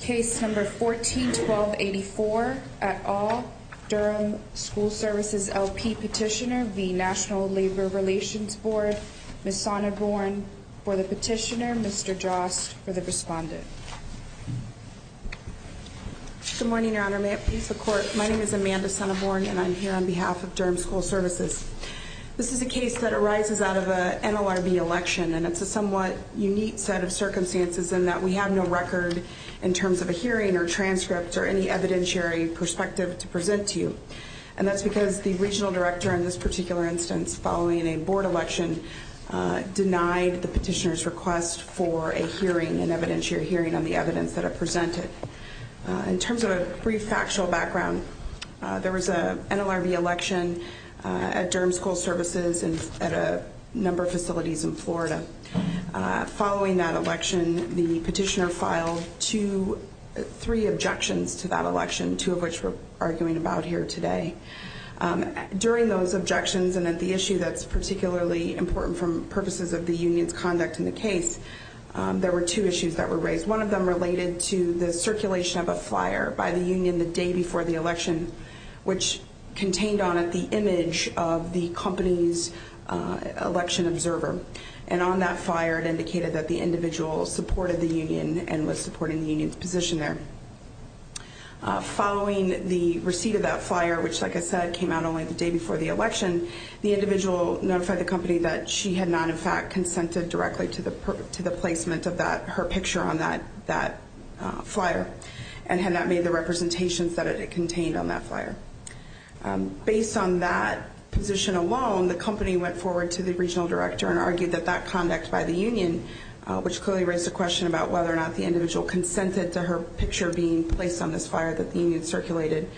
Case No. 14-1284, at all, Durham School Services, LP petitioner v. National Labor Relations Board, Ms. Sonneborn for the petitioner, Mr. Jost for the respondent. Good morning, Your Honor. May it please the Court, my name is Amanda Sonneborn and I'm here on behalf of Durham School Services. This is a case that arises out of an NLRB election and it's a somewhat unique set of circumstances in that we have no record in terms of a hearing or transcript or any evidentiary perspective to present to you. And that's because the regional director in this particular instance, following a board election, denied the petitioner's request for a hearing, an evidentiary hearing on the evidence that I presented. In terms of a brief factual background, there was an NLRB election at Durham School Services and at a number of facilities in Florida. Following that election, the petitioner filed two, three objections to that election, two of which we're arguing about here today. During those objections and at the issue that's particularly important from purposes of the union's conduct in the case, there were two issues that were raised. One of them related to the circulation of a flyer by the union the day before the election which contained on it the image of the company's election observer. And on that flyer, it indicated that the individual supported the union and was supporting the union's position there. Following the receipt of that flyer, which like I said, came out only the day before the election, the individual notified the company that she had not in fact consented directly to the placement of her picture on that flyer and had not made the representations that it contained on that flyer. Based on that position alone, the company went forward to the regional director and argued that that conduct by the union, which clearly raised a question about whether or not the individual consented to her picture being placed on this flyer that the union circulated,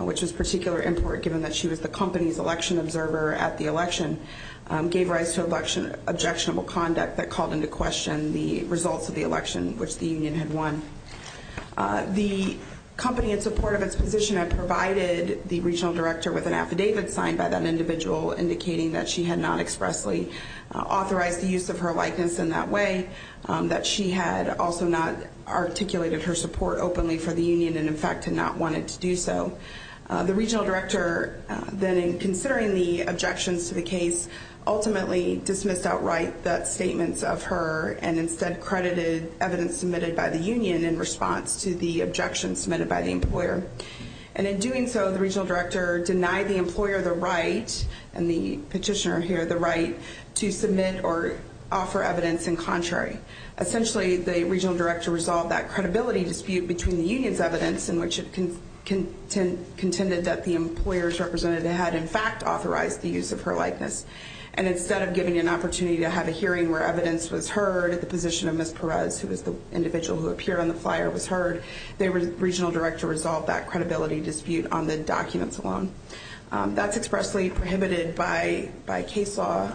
which was particularly important given that she was the company's election observer at the election, gave rise to objectionable conduct that called into question the results of the election which the union had won. The company, in support of its position, had provided the regional director with an affidavit signed by that individual indicating that she had not expressly authorized the use of her likeness in that way, that she had also not articulated her support openly for the union and in fact had not wanted to do so. The regional director then, in considering the objections to the case, ultimately dismissed outright the statements of her and instead credited evidence submitted by the union in response to the objections submitted by the employer. And in doing so, the regional director denied the employer the right, and the petitioner here the right, to submit or offer evidence in contrary. Essentially, the regional director resolved that credibility dispute between the union's evidence in which it contended that the employer's representative had in fact authorized the use of her likeness. And instead of giving an opportunity to have a hearing where evidence was heard, the position of Ms. Perez, who was the individual who appeared on the flyer, was heard. The regional director resolved that credibility dispute on the documents alone. That's expressly prohibited by case law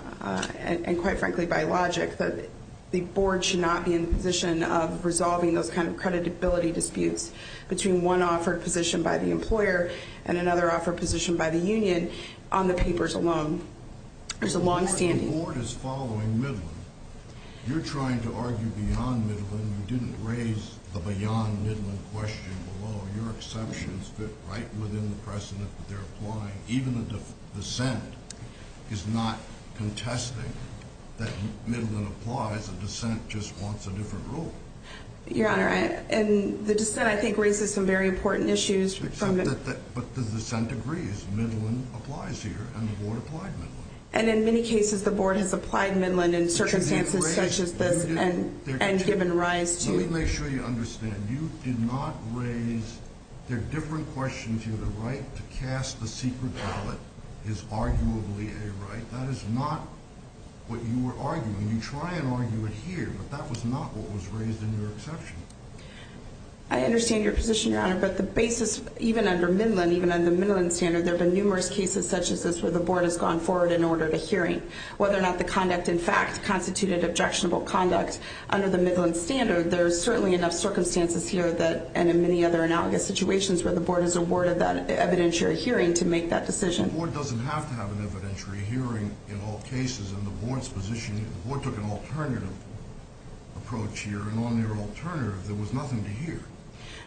and, quite frankly, by logic. The board should not be in a position of resolving those kind of credibility disputes between one offered position by the employer and another offered position by the union on the papers alone. There's a longstanding... Even the dissent is not contesting that Midland applies. The dissent just wants a different rule. Your Honor, the dissent, I think, raises some very important issues. But the dissent agrees. Midland applies here, and the board applied Midland. And in many cases, the board has applied Midland in circumstances such as this and given rise to... Let me make sure you understand. You did not raise... They're different questions here. The right to cast the secret ballot is arguably a right. That is not what you were arguing. You try and argue it here, but that was not what was raised in your exception. I understand your position, Your Honor. But the basis, even under Midland, even under the Midland standard, there have been numerous cases such as this where the board has gone forward and ordered a hearing. Whether or not the conduct, in fact, constituted objectionable conduct under the Midland standard, there are certainly enough circumstances here and in many other analogous situations where the board has awarded that evidentiary hearing to make that decision. The board doesn't have to have an evidentiary hearing in all cases. And the board's position, the board took an alternative approach here. And on their alternative, there was nothing to hear.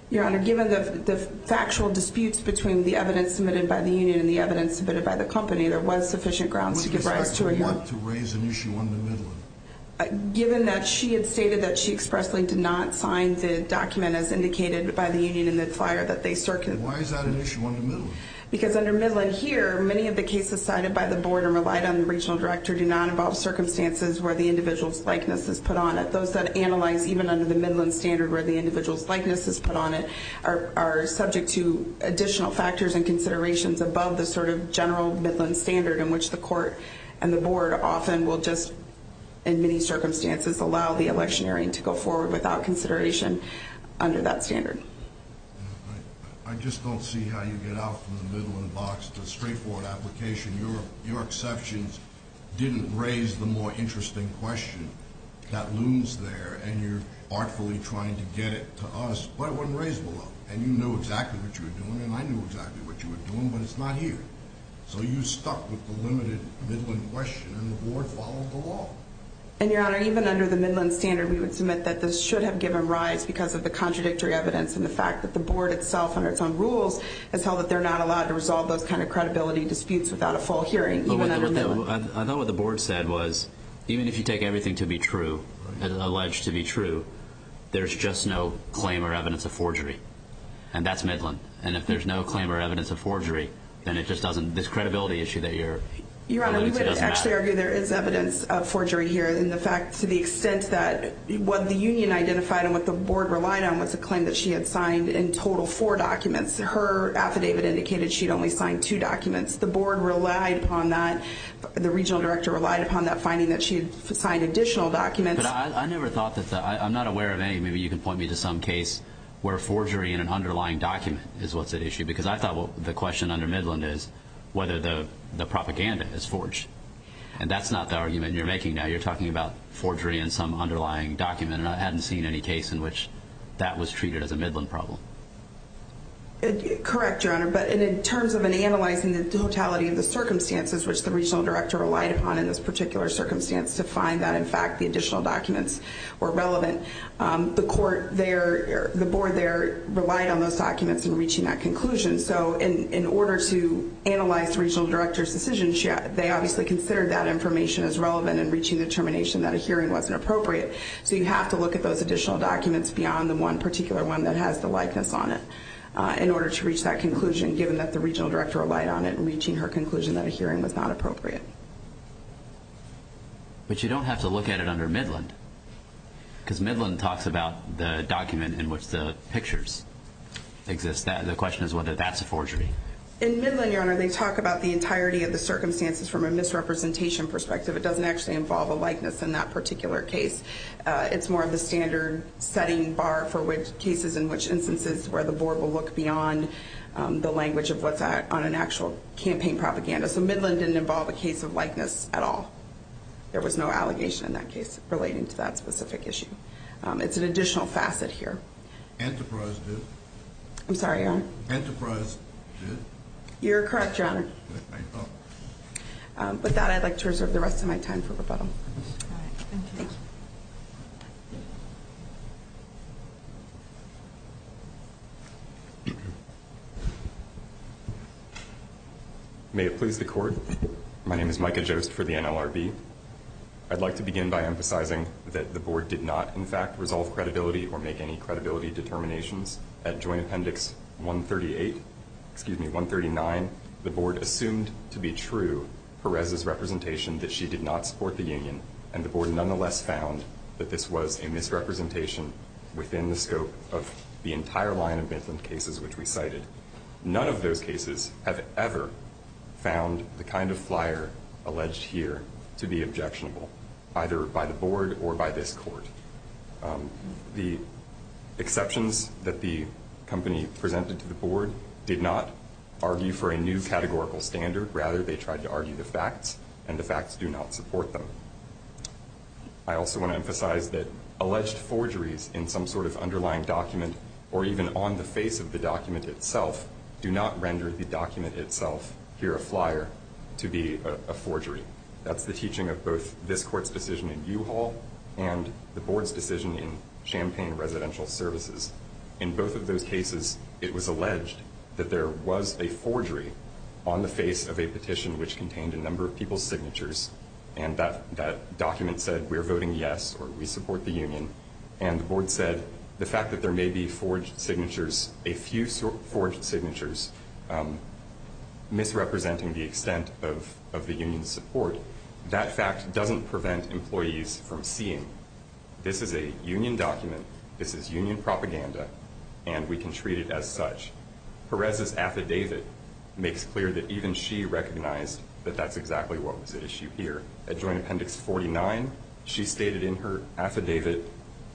Your Honor, given the factual disputes between the evidence submitted by the union and the evidence submitted by the company, there was sufficient grounds to give rise to a hearing. What do you expect the board to raise an issue under Midland? Given that she had stated that she expressly did not sign the document as indicated by the union in the flyer that they circulated... Why is that an issue under Midland? Because under Midland here, many of the cases cited by the board and relied on the regional director do not involve circumstances where the individual's likeness is put on it. Those that analyze even under the Midland standard where the individual's likeness is put on it are subject to additional factors and considerations above the sort of general Midland standard in which the court and the board often will just, in many circumstances, allow the electioneering to go forward without consideration under that standard. I just don't see how you get out from the Midland box to a straightforward application. Your exceptions didn't raise the more interesting question that looms there. And you're artfully trying to get it to us, but it wasn't raised below. And you knew exactly what you were doing, and I knew exactly what you were doing, but it's not here. So you stuck with the limited Midland question, and the board followed the law. And, Your Honor, even under the Midland standard, we would submit that this should have given rise because of the contradictory evidence and the fact that the board itself, under its own rules, has held that they're not allowed to resolve those kind of credibility disputes without a full hearing, even under Midland. I thought what the board said was even if you take everything to be true, alleged to be true, there's just no claim or evidence of forgery, and that's Midland. And if there's no claim or evidence of forgery, then it just doesn't, this credibility issue that you're alluding to doesn't matter. Your Honor, we would actually argue there is evidence of forgery here, and the fact to the extent that what the union identified and what the board relied on was a claim that she had signed in total four documents. Her affidavit indicated she'd only signed two documents. The board relied upon that. The regional director relied upon that finding that she had signed additional documents. But I never thought that the, I'm not aware of any, maybe you can point me to some case, where forgery in an underlying document is what's at issue, because I thought the question under Midland is whether the propaganda is forged. And that's not the argument you're making now. You're talking about forgery in some underlying document, and I hadn't seen any case in which that was treated as a Midland problem. Correct, Your Honor. But in terms of analyzing the totality of the circumstances which the regional director relied upon in this particular circumstance to find that in fact the additional documents were relevant, the board there relied on those documents in reaching that conclusion. So in order to analyze the regional director's decision, they obviously considered that information as relevant in reaching the determination that a hearing wasn't appropriate. So you have to look at those additional documents beyond the one particular one that has the likeness on it in order to reach that conclusion, given that the regional director relied on it in reaching her conclusion that a hearing was not appropriate. But you don't have to look at it under Midland, because Midland talks about the document in which the pictures exist. The question is whether that's a forgery. In Midland, Your Honor, they talk about the entirety of the circumstances from a misrepresentation perspective. It doesn't actually involve a likeness in that particular case. It's more of the standard setting bar for which cases in which instances where the board will look beyond the language of what's on an actual campaign propaganda. So Midland didn't involve a case of likeness at all. There was no allegation in that case relating to that specific issue. It's an additional facet here. Enterprise did? I'm sorry, Your Honor? Enterprise did? You're correct, Your Honor. With that, I'd like to reserve the rest of my time for rebuttal. All right. Thank you. May it please the Court, my name is Micah Jost for the NLRB. I'd like to begin by emphasizing that the board did not, in fact, resolve credibility or make any credibility determinations. At Joint Appendix 138, excuse me, 139, the board assumed to be true Perez's representation that she did not support the union, and the board nonetheless found that this was a misrepresentation within the scope of the entire line of Midland cases which we cited. None of those cases have ever found the kind of flyer alleged here to be objectionable, either by the board or by this Court. The exceptions that the company presented to the board did not argue for a new categorical standard. Rather, they tried to argue the facts, and the facts do not support them. I also want to emphasize that alleged forgeries in some sort of underlying document or even on the face of the document itself do not render the document itself, here a flyer, to be a forgery. That's the teaching of both this Court's decision in U-Haul and the board's decision in Champaign Residential Services. In both of those cases, it was alleged that there was a forgery on the face of a petition which contained a number of people's signatures, and that document said, we're voting yes, or we support the union. And the board said the fact that there may be forged signatures, a few forged signatures, misrepresenting the extent of the union's support, that fact doesn't prevent employees from seeing this is a union document, this is union propaganda, and we can treat it as such. Perez's affidavit makes clear that even she recognized that that's exactly what was at issue here. At Joint Appendix 49, she stated in her affidavit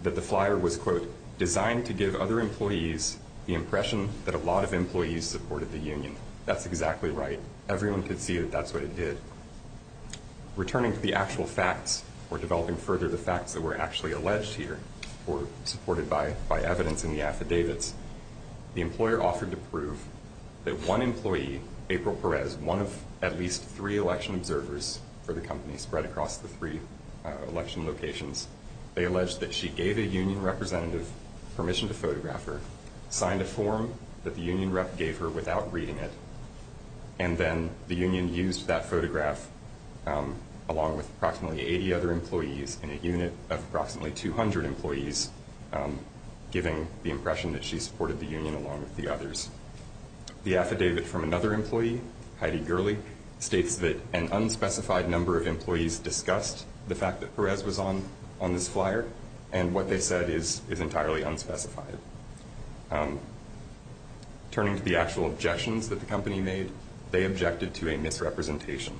that the flyer was, quote, trying to give other employees the impression that a lot of employees supported the union. That's exactly right. Everyone could see that that's what it did. Returning to the actual facts or developing further the facts that were actually alleged here or supported by evidence in the affidavits, the employer offered to prove that one employee, April Perez, one of at least three election observers for the company spread across the three election locations, they alleged that she gave a union representative permission to photograph her, signed a form that the union rep gave her without reading it, and then the union used that photograph along with approximately 80 other employees in a unit of approximately 200 employees, giving the impression that she supported the union along with the others. The affidavit from another employee, Heidi Gurley, states that an unspecified number of employees discussed the fact that Perez was on this flyer and what they said is entirely unspecified. Turning to the actual objections that the company made, they objected to a misrepresentation.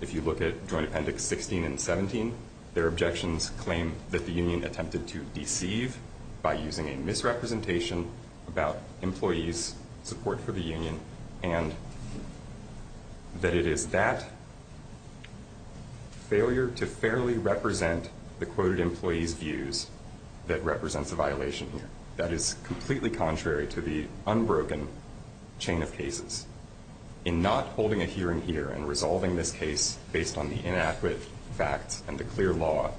If you look at Joint Appendix 16 and 17, their objections claim that the union attempted to deceive by using a misrepresentation about employees' support for the union and that it is that failure to fairly represent the quoted employee's views that represents a violation here. That is completely contrary to the unbroken chain of cases. In not holding a hearing here and resolving this case based on the inadequate facts and the clear law,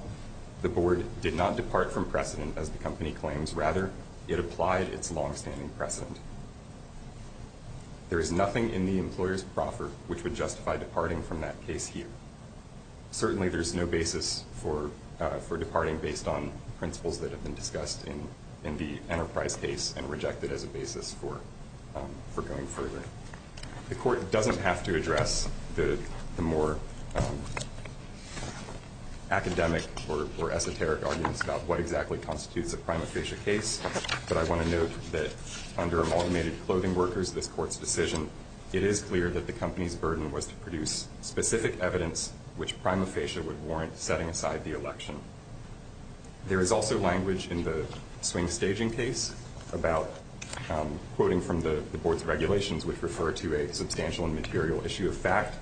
the board did not depart from precedent, as the company claims. Rather, it applied its longstanding precedent. There is nothing in the employer's proffer which would justify departing from that case here. Certainly there is no basis for departing based on principles that have been discussed in the Enterprise case and rejected as a basis for going further. The court doesn't have to address the more academic or esoteric arguments about what exactly constitutes a prima facie case, but I want to note that under amalgamated clothing workers, this court's decision, it is clear that the company's burden was to produce specific evidence which prima facie would warrant setting aside the election. There is also language in the swing staging case about quoting from the board's regulations, which refer to a substantial and material issue of fact.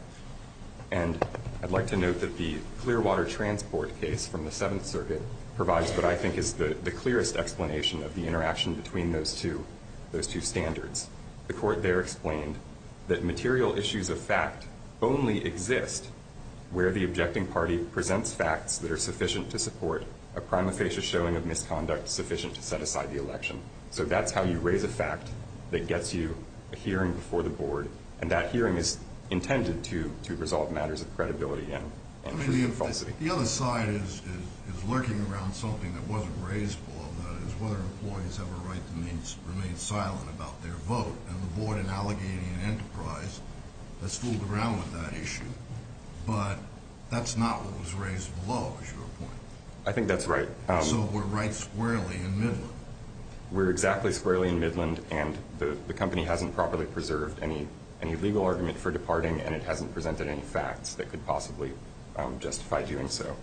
And I'd like to note that the Clearwater Transport case from the Seventh Circuit provides what I think is the clearest explanation of the interaction between those two standards. The court there explained that material issues of fact only exist where the objecting party presents facts that are sufficient to support a prima facie showing of misconduct sufficient to set aside the election. So that's how you raise a fact that gets you a hearing before the board, and that hearing is intended to resolve matters of credibility and falsity. The other side is lurking around something that wasn't raised before, and that is whether employees have a right to remain silent about their vote and avoid an allegating enterprise that's fooled around with that issue. But that's not what was raised below, is your point? I think that's right. So we're right squarely in Midland. We're exactly squarely in Midland, and the company hasn't properly preserved any legal argument for departing, and it hasn't presented any facts that could possibly justify doing so.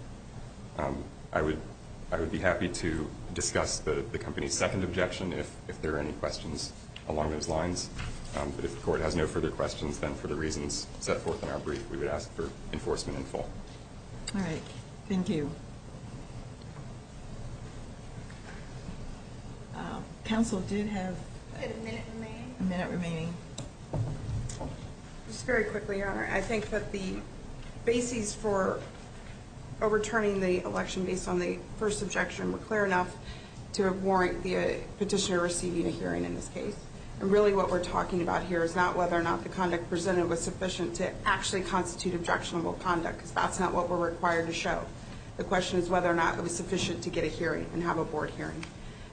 I would be happy to discuss the company's second objection if there are any questions along those lines. But if the court has no further questions, then for the reasons set forth in our brief, we would ask for enforcement in full. All right. Thank you. Thank you. Counsel did have a minute remaining. Just very quickly, Your Honor. I think that the basis for overturning the election based on the first objection were clear enough to warrant the petitioner receiving a hearing in this case. And really what we're talking about here is not whether or not the conduct presented was sufficient to actually constitute objectionable conduct, because that's not what we're required to show. The question is whether or not it was sufficient to get a hearing and have a board hearing.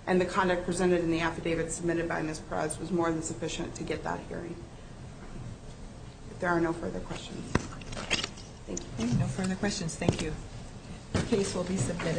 And the conduct presented in the affidavit submitted by Ms. Perez was more than sufficient to get that hearing. If there are no further questions. Thank you. No further questions. Thank you. The case will be submitted.